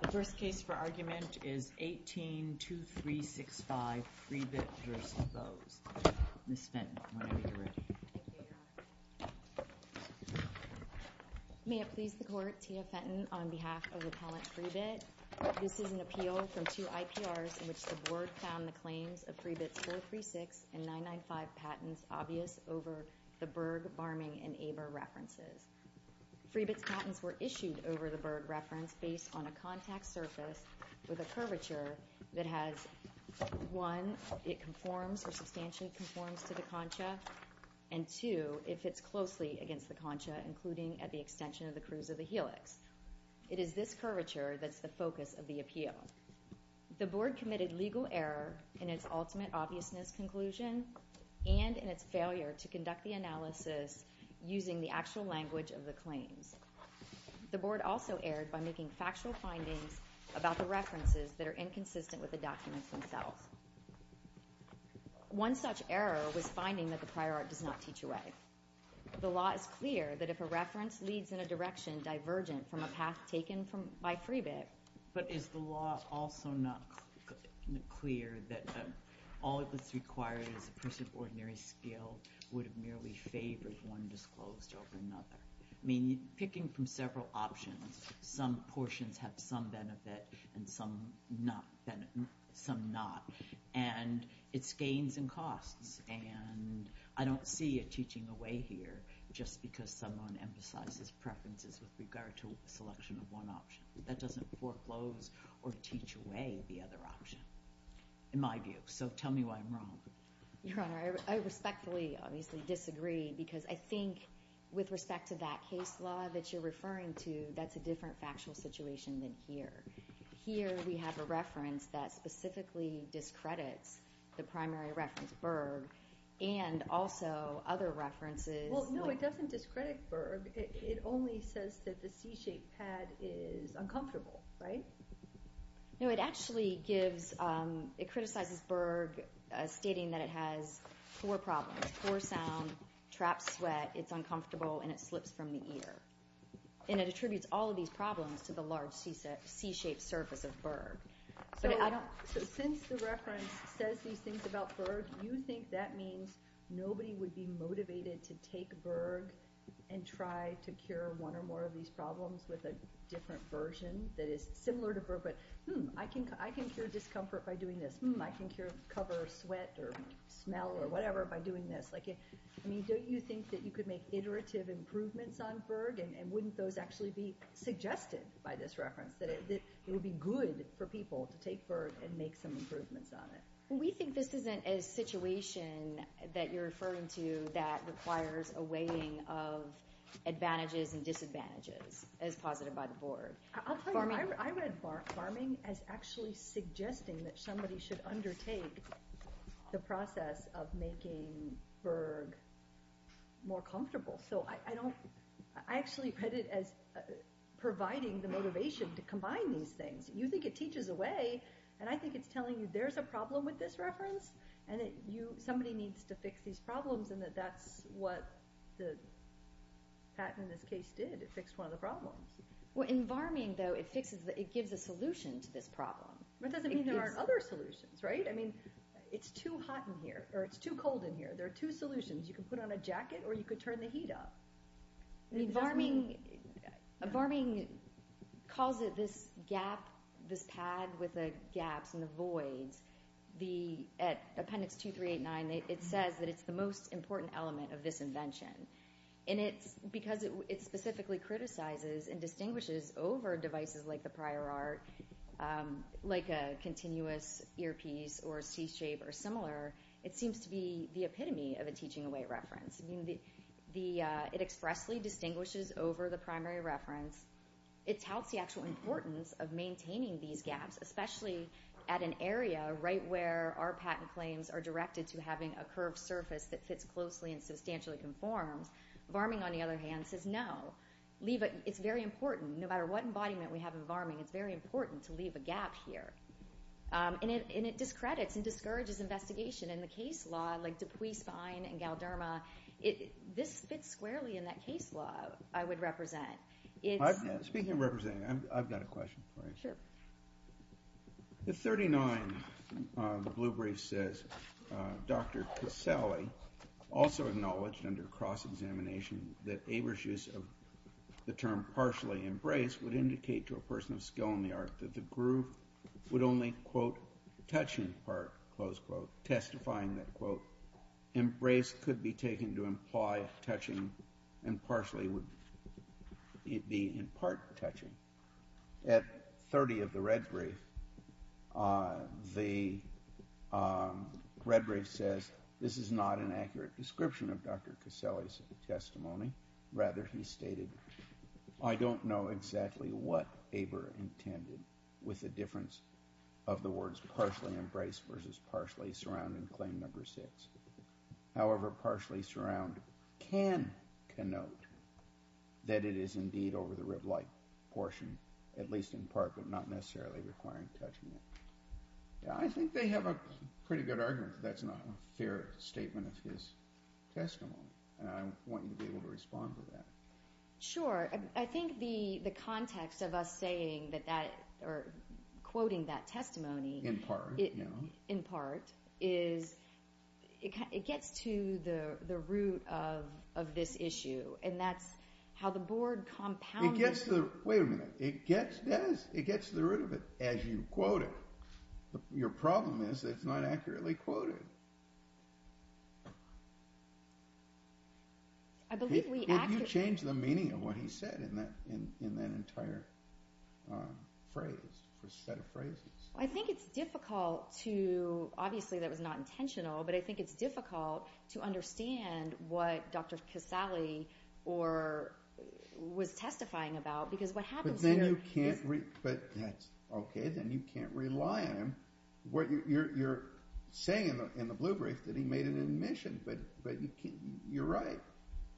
The first case for argument is 18-2365 Freebit v. Bose. Ms. Fenton, whenever you're ready. Thank you, Your Honor. May it please the Court, Tia Fenton on behalf of the appellant Freebit. This is an appeal from two IPRs in which the board found the claims of Freebit's 436 and 995 patents obvious over the Berg, Barming, and Aber references. Freebit's patents were issued over the Berg reference based on a contact surface with a curvature that has, one, it conforms or substantially conforms to the concha, and two, it fits closely against the concha, including at the extension of the crews of the helix. It is this curvature that's the focus of the appeal. The board committed legal error in its ultimate obviousness conclusion and in its failure to conduct the analysis using the actual language of the claims. The board also erred by making factual findings about the references that are inconsistent with the documents themselves. One such error was finding that the prior art does not teach away. The law is clear that if a reference leads in a direction divergent from a path taken by Freebit but is the law also not clear that all that's required is a person of ordinary skill would have merely favored one disclosed over another? I mean, picking from several options, some portions have some benefit and some not. And it's gains and costs, and I don't see it teaching away here just because someone emphasizes preferences with regard to a selection of one option. That doesn't foreclose or teach away the other option, in my view. So tell me why I'm wrong. Your Honor, I respectfully, obviously, disagree, because I think with respect to that case law that you're referring to, that's a different factual situation than here. Here we have a reference that specifically discredits the primary reference, Berg, and also other references. Well, no, it doesn't discredit Berg. It only says that the C-shaped pad is uncomfortable, right? No, it actually gives, it criticizes Berg, stating that it has four problems, poor sound, trapped sweat, it's uncomfortable, and it slips from the ear. And it attributes all of these problems to the large C-shaped surface of Berg. So since the reference says these things about Berg, you think that means nobody would be motivated to take Berg and try to cure one or more of these problems with a different version that is similar to Berg? But, hmm, I can cure discomfort by doing this. Hmm, I can cover sweat or smell or whatever by doing this. I mean, don't you think that you could make iterative improvements on Berg? And wouldn't those actually be suggested by this reference, that it would be good for people to take Berg and make some improvements on it? We think this isn't a situation that you're referring to that requires a weighing of advantages and disadvantages, as posited by the board. I'll tell you, I read farming as actually suggesting that somebody should undertake the process of making Berg more comfortable. So I actually read it as providing the motivation to combine these things. You think it teaches a way, and I think it's telling you there's a problem with this reference, and somebody needs to fix these problems, and that that's what the patent in this case did. It fixed one of the problems. Well, in farming, though, it gives a solution to this problem. That doesn't mean there aren't other solutions, right? I mean, it's too hot in here, or it's too cold in here. There are two solutions. You can put on a jacket, or you could turn the heat up. Farming calls it this gap, this pad with the gaps and the voids. At appendix 2389, it says that it's the most important element of this invention. And because it specifically criticizes and distinguishes over devices like the prior art, like a continuous earpiece or C-shape or similar, it seems to be the epitome of a teaching away reference. I mean, it expressly distinguishes over the primary reference. It touts the actual importance of maintaining these gaps, especially at an area right where our patent claims are directed to having a curved surface that fits closely and substantially conforms. Farming, on the other hand, says no. Leave it. It's very important. No matter what embodiment we have in farming, it's very important to leave a gap here. And it discredits and discourages investigation. In the case law, like Dupuis, Spine, and Galderma, this fits squarely in that case law, I would represent. Speaking of representing, I've got a question for you. Sure. At 39, the blue brief says, Dr. Caselli also acknowledged under cross-examination that Aver's use of the term partially embraced would indicate to a person of skill in the art that the groove would only, quote, touching part, close quote, testifying that, quote, embrace could be taken to imply touching and partially would be in part touching. At 30 of the red brief, the red brief says this is not an accurate description of Dr. Caselli's testimony. Rather, he stated, I don't know exactly what Aver intended with the difference of the words partially embrace versus partially surround in claim number six. However, partially surround can connote that it is indeed over the rib-like portion, at least in part, but not necessarily requiring touching it. I think they have a pretty good argument that that's not a fair statement of his testimony. And I want you to be able to respond to that. Sure. I think the context of us saying that or quoting that testimony in part is it gets to the root of this issue. And that's how the board compounded it. Wait a minute. It gets to the root of it as you quote it. Your problem is it's not accurately quoted. If you change the meaning of what he said in that entire phrase, set of phrases. I think it's difficult to, obviously that was not intentional, but I think it's difficult to understand what Dr. Caselli was testifying about. But then you can't rely on him. You're saying in the blue brief that he made an admission, but you're right.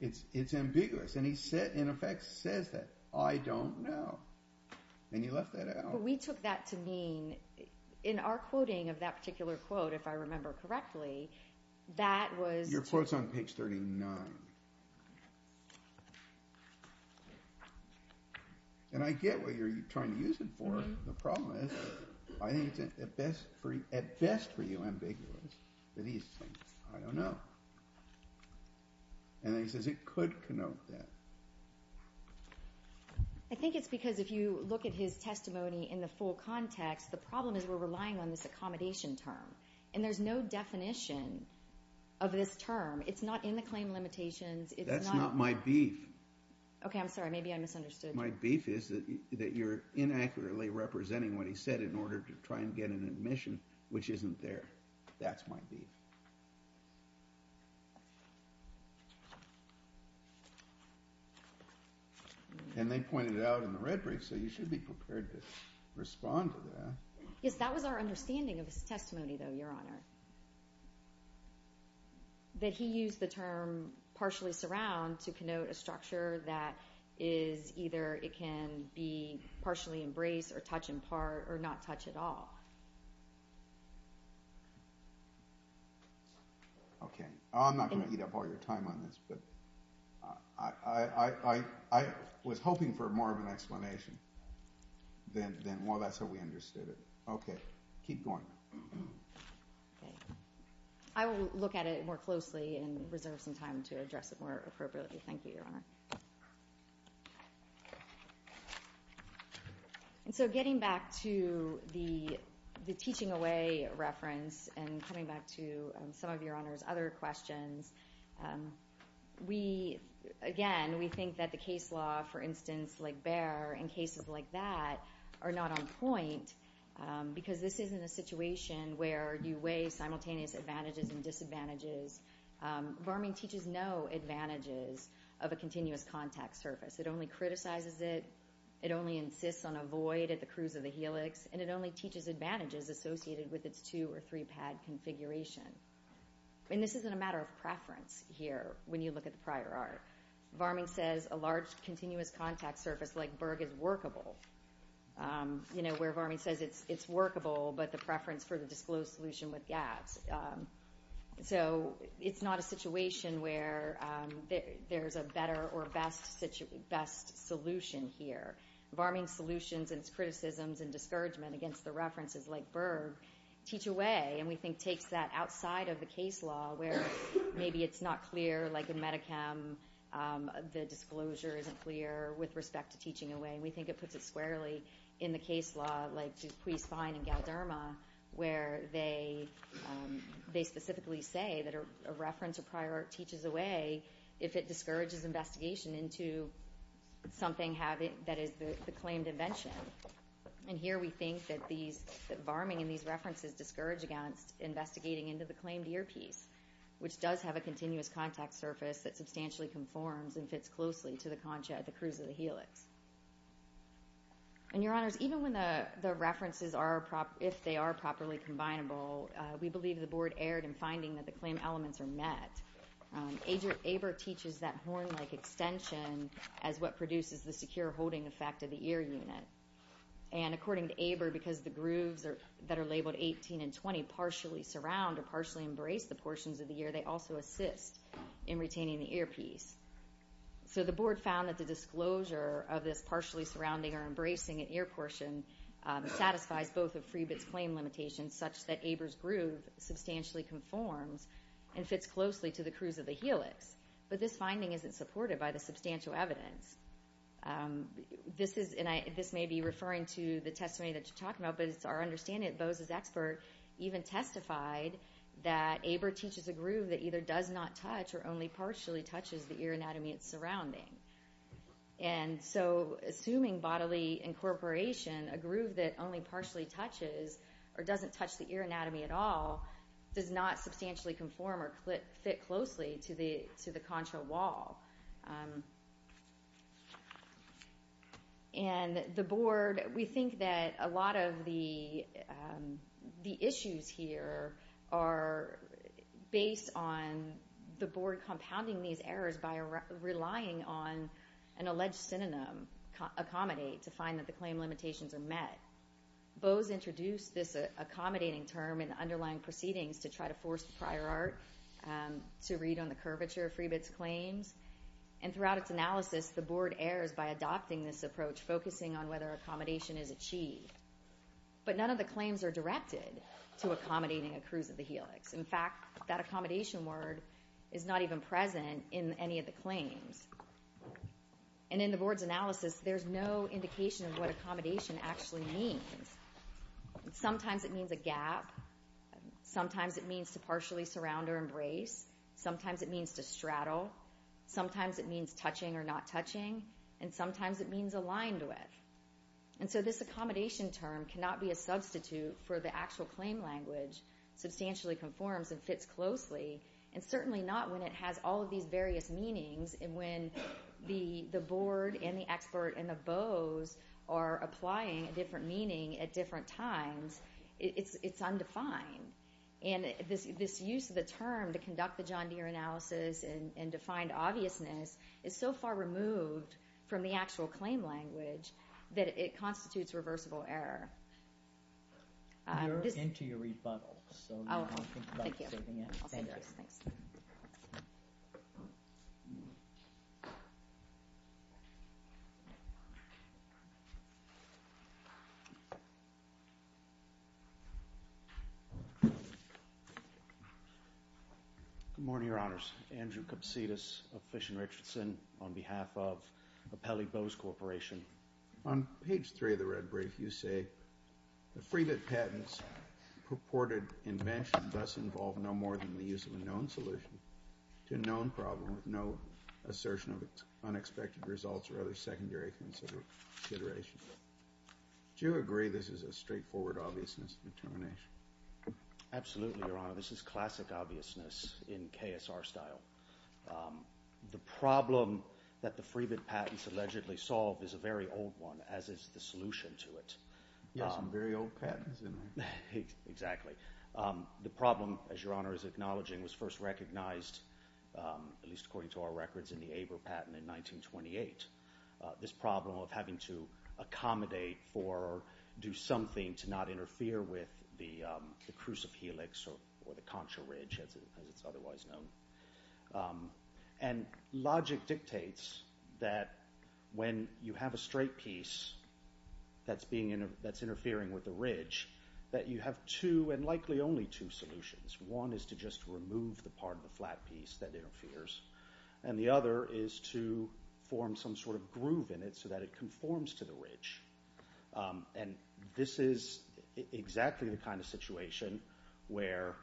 It's ambiguous. And he in effect says that, I don't know. And you left that out. But we took that to mean in our quoting of that particular quote, if I remember correctly, that was Your quote's on page 39. And I get what you're trying to use it for. The problem is I think it's at best for you ambiguous that he's saying, I don't know. And then he says it could connote that. I think it's because if you look at his testimony in the full context, the problem is we're relying on this accommodation term. And there's no definition of this term. It's not in the claim limitations. That's not my beef. Okay, I'm sorry. Maybe I misunderstood. My beef is that you're inaccurately representing what he said in order to try and get an admission, which isn't there. That's my beef. And they pointed it out in the red brief, so you should be prepared to respond to that. Yes, that was our understanding of his testimony, though, Your Honor. That he used the term partially surround to connote a structure that is either it can be partially embraced or touch in part or not touch at all. Okay. I'm not going to eat up all your time on this. But I was hoping for more of an explanation than, well, that's how we understood it. Okay. Keep going. I will look at it more closely and reserve some time to address it more appropriately. Thank you, Your Honor. And so getting back to the teaching away reference and coming back to some of Your Honor's other questions, again, we think that the case law, for instance, like Behr and cases like that, are not on point because this isn't a situation where you weigh simultaneous advantages and disadvantages. Varming teaches no advantages of a continuous contact surface. It only criticizes it, it only insists on a void at the cruise of the helix, and it only teaches advantages associated with its two- or three-pad configuration. And this isn't a matter of preference here when you look at the prior art. Varming says a large continuous contact surface like Berg is workable, where Varming says it's workable but the preference for the disclosed solution with gaps. So it's not a situation where there's a better or best solution here. Varming's solutions and its criticisms and discouragement against the references like Berg teach away, and we think takes that outside of the case law where maybe it's not clear, like in Medicam, the disclosure isn't clear with respect to teaching away. We think it puts it squarely in the case law like Dupuis, Fine, and Galderma, where they specifically say that a reference or prior art teaches away if it discourages investigation into something that is the claimed invention. And here we think that Varming and these references discourage against investigating into the claimed earpiece, which does have a continuous contact surface that substantially conforms and fits closely to the concha at the cruise of the helix. And, Your Honors, even when the references are, if they are properly combinable, we believe the board erred in finding that the claim elements are met. ABER teaches that horn-like extension as what produces the secure holding effect of the ear unit. And according to ABER, because the grooves that are labeled 18 and 20 partially surround or partially embrace the portions of the ear, they also assist in retaining the earpiece. So the board found that the disclosure of this partially surrounding or embracing an ear portion satisfies both of Freebit's claim limitations such that ABER's groove substantially conforms and fits closely to the cruise of the helix. But this finding isn't supported by the substantial evidence. This may be referring to the testimony that you're talking about, but it's our understanding that Bose's expert even testified that ABER teaches a groove that either does not touch or only partially touches the ear anatomy it's surrounding. And so assuming bodily incorporation, a groove that only partially touches or doesn't touch the ear anatomy at all does not substantially conform or fit closely to the concha wall. And the board, we think that a lot of the issues here are based on the board compounding these errors by relying on an alleged synonym accommodate to find that the claim limitations are met. Bose introduced this accommodating term in the underlying proceedings to try to force the prior art to read on the curvature of Freebit's claims. And throughout its analysis, the board errs by adopting this approach, focusing on whether accommodation is achieved. But none of the claims are directed to accommodating a cruise of the helix. In fact, that accommodation word is not even present in any of the claims. And in the board's analysis, there's no indication of what accommodation actually means. Sometimes it means a gap. Sometimes it means to partially surround or embrace. Sometimes it means to straddle. Sometimes it means touching or not touching. And sometimes it means aligned with. And so this accommodation term cannot be a substitute for the actual claim language, substantially conforms and fits closely, and certainly not when it has all of these various meanings and when the board and the expert and the Bose are applying a different meaning at different times. It's undefined. And this use of the term to conduct the John Deere analysis and to find obviousness is so far removed from the actual claim language that it constitutes reversible error. We are into your rebuttal. Oh, thank you. Thanks. Good morning, Your Honors. Andrew Kapsidis of Fish and Richardson on behalf of the Pele-Bose Corporation. On page three of the red brief, you say, the FreeBit patents purported invention thus involve no more than the use of a known solution to a known problem with no assertion of unexpected results or other secondary considerations. Do you agree this is a straightforward obviousness determination? Absolutely, Your Honor. This is classic obviousness in KSR style. The problem that the FreeBit patents allegedly solve is a very old one, as is the solution to it. Yeah, some very old patents, isn't it? Exactly. The problem, as Your Honor is acknowledging, was first recognized, at least according to our records, in the ABER patent in 1928. This problem of having to accommodate for or do something to not interfere with the crucif-helix or the contra ridge, as it's otherwise known. And logic dictates that when you have a straight piece that's interfering with the ridge, that you have two, and likely only two, solutions. One is to just remove the part of the flat piece that interferes, and the other is to form some sort of groove in it so that it conforms to the ridge. And this is exactly the kind of situation where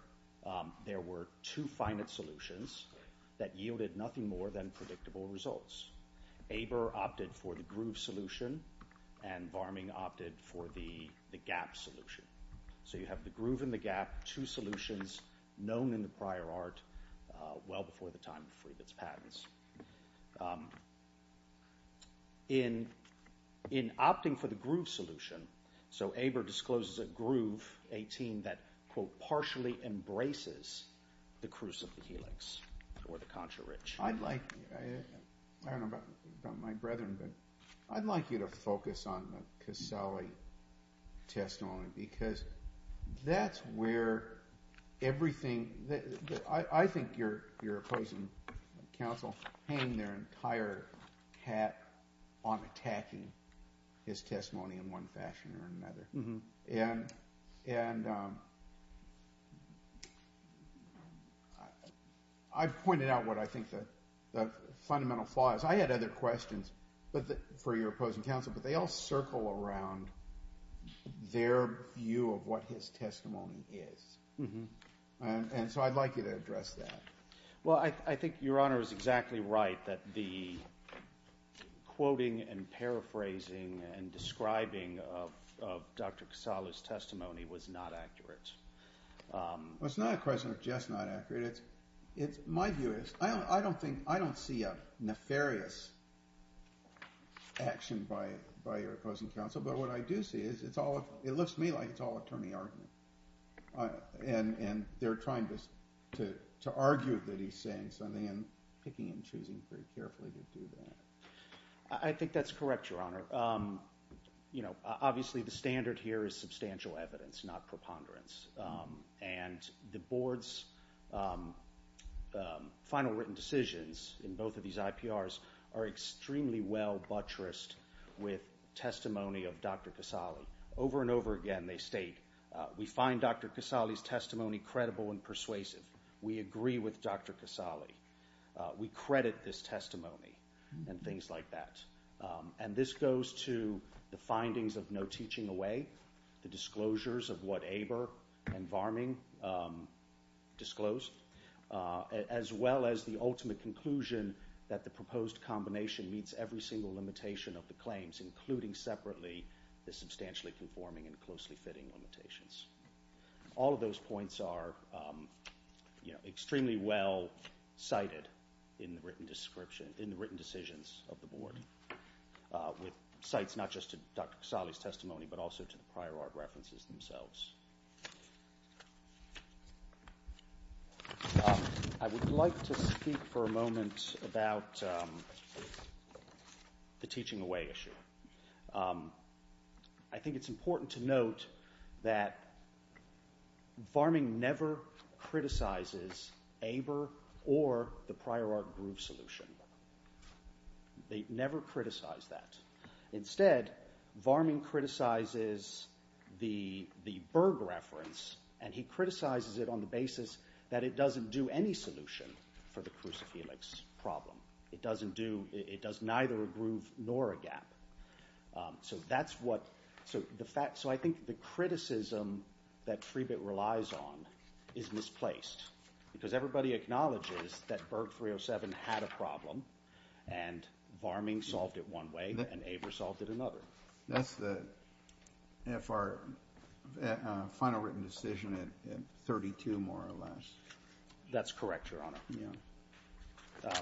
there were two finite solutions that yielded nothing more than predictable results. ABER opted for the groove solution, and Varming opted for the gap solution. So you have the groove and the gap, two solutions known in the prior art, well before the time of FreeBit's patents. In opting for the groove solution, so ABER discloses a groove, a team that, quote, partially embraces the crucif-helix or the contra ridge. I'd like, I don't know about my brethren, but I'd like you to focus on the Casali testimony, because that's where everything, I think your opposing counsel hang their entire hat on attacking his testimony in one fashion or another. And I've pointed out what I think the fundamental flaw is. I had other questions for your opposing counsel, but they all circle around their view of what his testimony is. And so I'd like you to address that. Well, I think your Honor is exactly right that the quoting and paraphrasing and describing of Dr. Casali's testimony was not accurate. Well, it's not a question of just not accurate. My view is I don't see a nefarious action by your opposing counsel, but what I do see is it lifts me like it's all attorney argument. And they're trying to argue that he's saying something and picking and choosing very carefully to do that. I think that's correct, Your Honor. Obviously, the standard here is substantial evidence, not preponderance. And the Board's final written decisions in both of these IPRs are extremely well buttressed with testimony of Dr. Casali. Over and over again they state, we find Dr. Casali's testimony credible and persuasive. We agree with Dr. Casali. We credit this testimony and things like that. And this goes to the findings of No Teaching Away, the disclosures of what Aber and Varming disclosed, as well as the ultimate conclusion that the proposed combination meets every single limitation of the claims, including separately the substantially conforming and closely fitting limitations. All of those points are extremely well cited in the written decisions of the Board, with cites not just to Dr. Casali's testimony, but also to the prior art references themselves. I would like to speak for a moment about the Teaching Away issue. I think it's important to note that Varming never criticizes Aber or the prior art groove solution. They never criticize that. Instead, Varming criticizes the Berg reference, and he criticizes it on the basis that it doesn't do any solution for the crucifelix problem. It does neither a groove nor a gap. So I think the criticism that Freebit relies on is misplaced, because everybody acknowledges that Berg 307 had a problem, and Varming solved it one way, and Aber solved it another. That's the F.R. final written decision at 32, more or less. That's correct, Your Honor.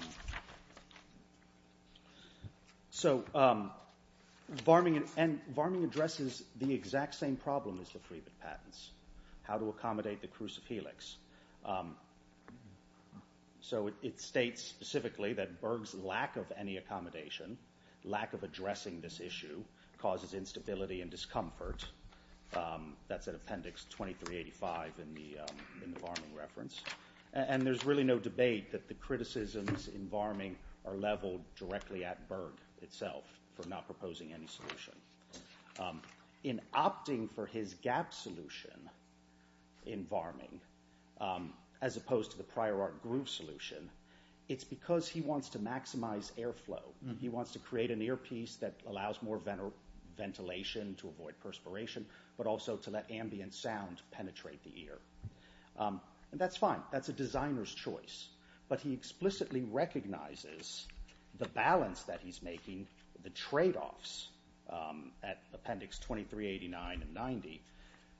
So Varming addresses the exact same problem as the Freebit patents, how to accommodate the crucifelix. So it states specifically that Berg's lack of any accommodation, lack of addressing this issue, causes instability and discomfort. That's at Appendix 2385 in the Varming reference. And there's really no debate that the criticisms in Varming are leveled directly at Berg itself for not proposing any solution. In opting for his gap solution in Varming, as opposed to the prior art groove solution, it's because he wants to maximize airflow. He wants to create an earpiece that allows more ventilation to avoid perspiration, but also to let ambient sound penetrate the ear. And that's fine. That's a designer's choice. But he explicitly recognizes the balance that he's making, the tradeoffs at Appendix 2389 and 90.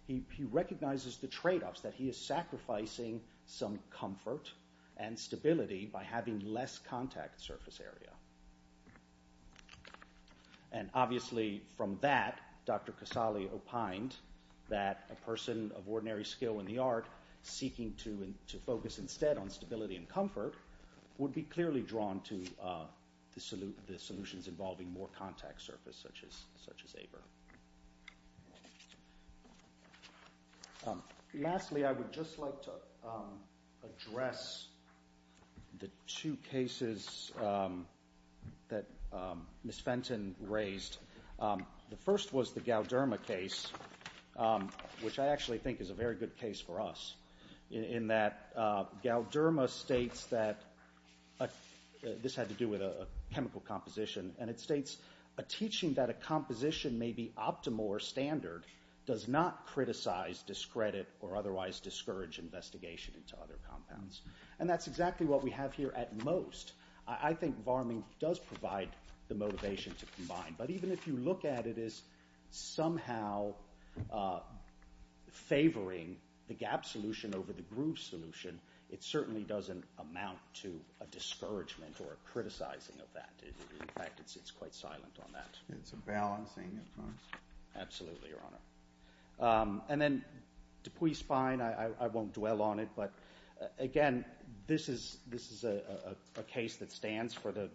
He recognizes the tradeoffs that he is sacrificing some comfort and stability by having less contact surface area. And obviously from that, Dr. Casale opined that a person of ordinary skill in the art seeking to focus instead on stability and comfort would be clearly drawn to the solutions involving more contact surface, such as ABR. Lastly, I would just like to address the two cases that Ms. Fenton raised. The first was the Gauderma case, which I actually think is a very good case for us, in that Gauderma states that this had to do with a chemical composition, and it states, a teaching that a composition may be optimal or standard does not criticize, discredit, or otherwise discourage investigation into other compounds. And that's exactly what we have here at most. I think Varming does provide the motivation to combine. But even if you look at it as somehow favoring the gap solution over the groove solution, it certainly doesn't amount to a discouragement or a criticizing of that. In fact, it's quite silent on that. It's a balancing, of course. Absolutely, Your Honor. And then Dupuis Fine, I won't dwell on it, but again this is a case that stands for the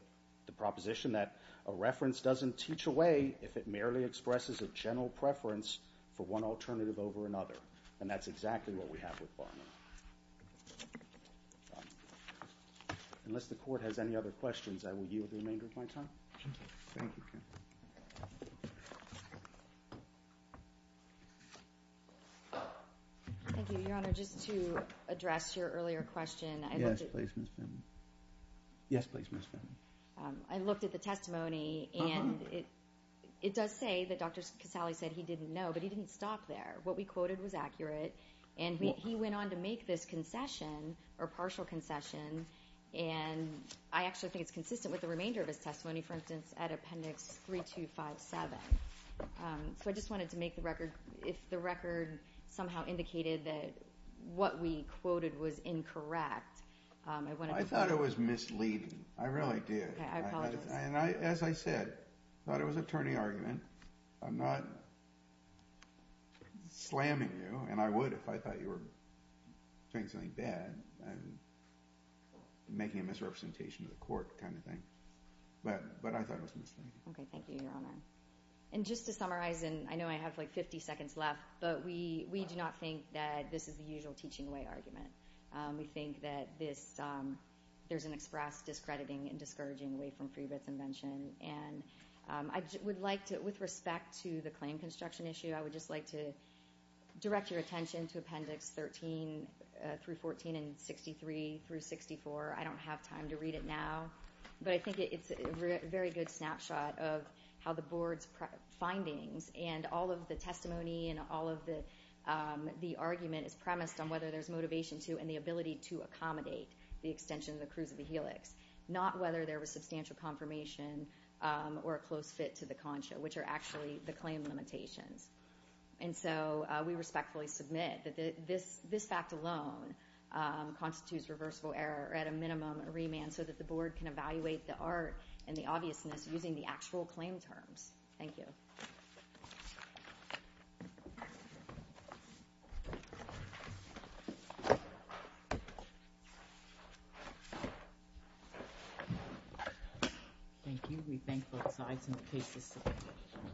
proposition that a reference doesn't teach away if it merely expresses a general preference for one alternative over another. And that's exactly what we have with Varming. Unless the Court has any other questions, I will yield the remainder of my time. Thank you. Thank you, Your Honor. Just to address your earlier question, I looked at- Yes, please, Ms. Fenton. Yes, please, Ms. Fenton. I looked at the testimony, and it does say that Dr. Casale said he didn't know, but he didn't stop there. What we quoted was accurate, and he went on to make this concession, or partial concession, and I actually think it's consistent with the remainder of his testimony, for instance, at Appendix 3257. So I just wanted to make the record, if the record somehow indicated that what we quoted was incorrect- I thought it was misleading. I really did. Okay, I apologize. And as I said, I thought it was a turning argument. I'm not slamming you, and I would if I thought you were doing something bad and making a misrepresentation to the Court kind of thing, but I thought it was misleading. Okay, thank you, Your Honor. And just to summarize, and I know I have like 50 seconds left, but we do not think that this is the usual teaching away argument. We think that there's an express discrediting and discouraging way from free bets invention, and I would like to, with respect to the claim construction issue, I would just like to direct your attention to Appendix 13 through 14 and 63 through 64. I don't have time to read it now, but I think it's a very good snapshot of how the Board's findings and all of the testimony and all of the argument is premised on whether there's motivation to and the ability to accommodate the extension of the crucible helix, not whether there was substantial confirmation or a close fit to the concha, which are actually the claim limitations. And so we respectfully submit that this fact alone constitutes reversible error at a minimum remand so that the Board can evaluate the art and the obviousness using the actual claim terms. Thank you.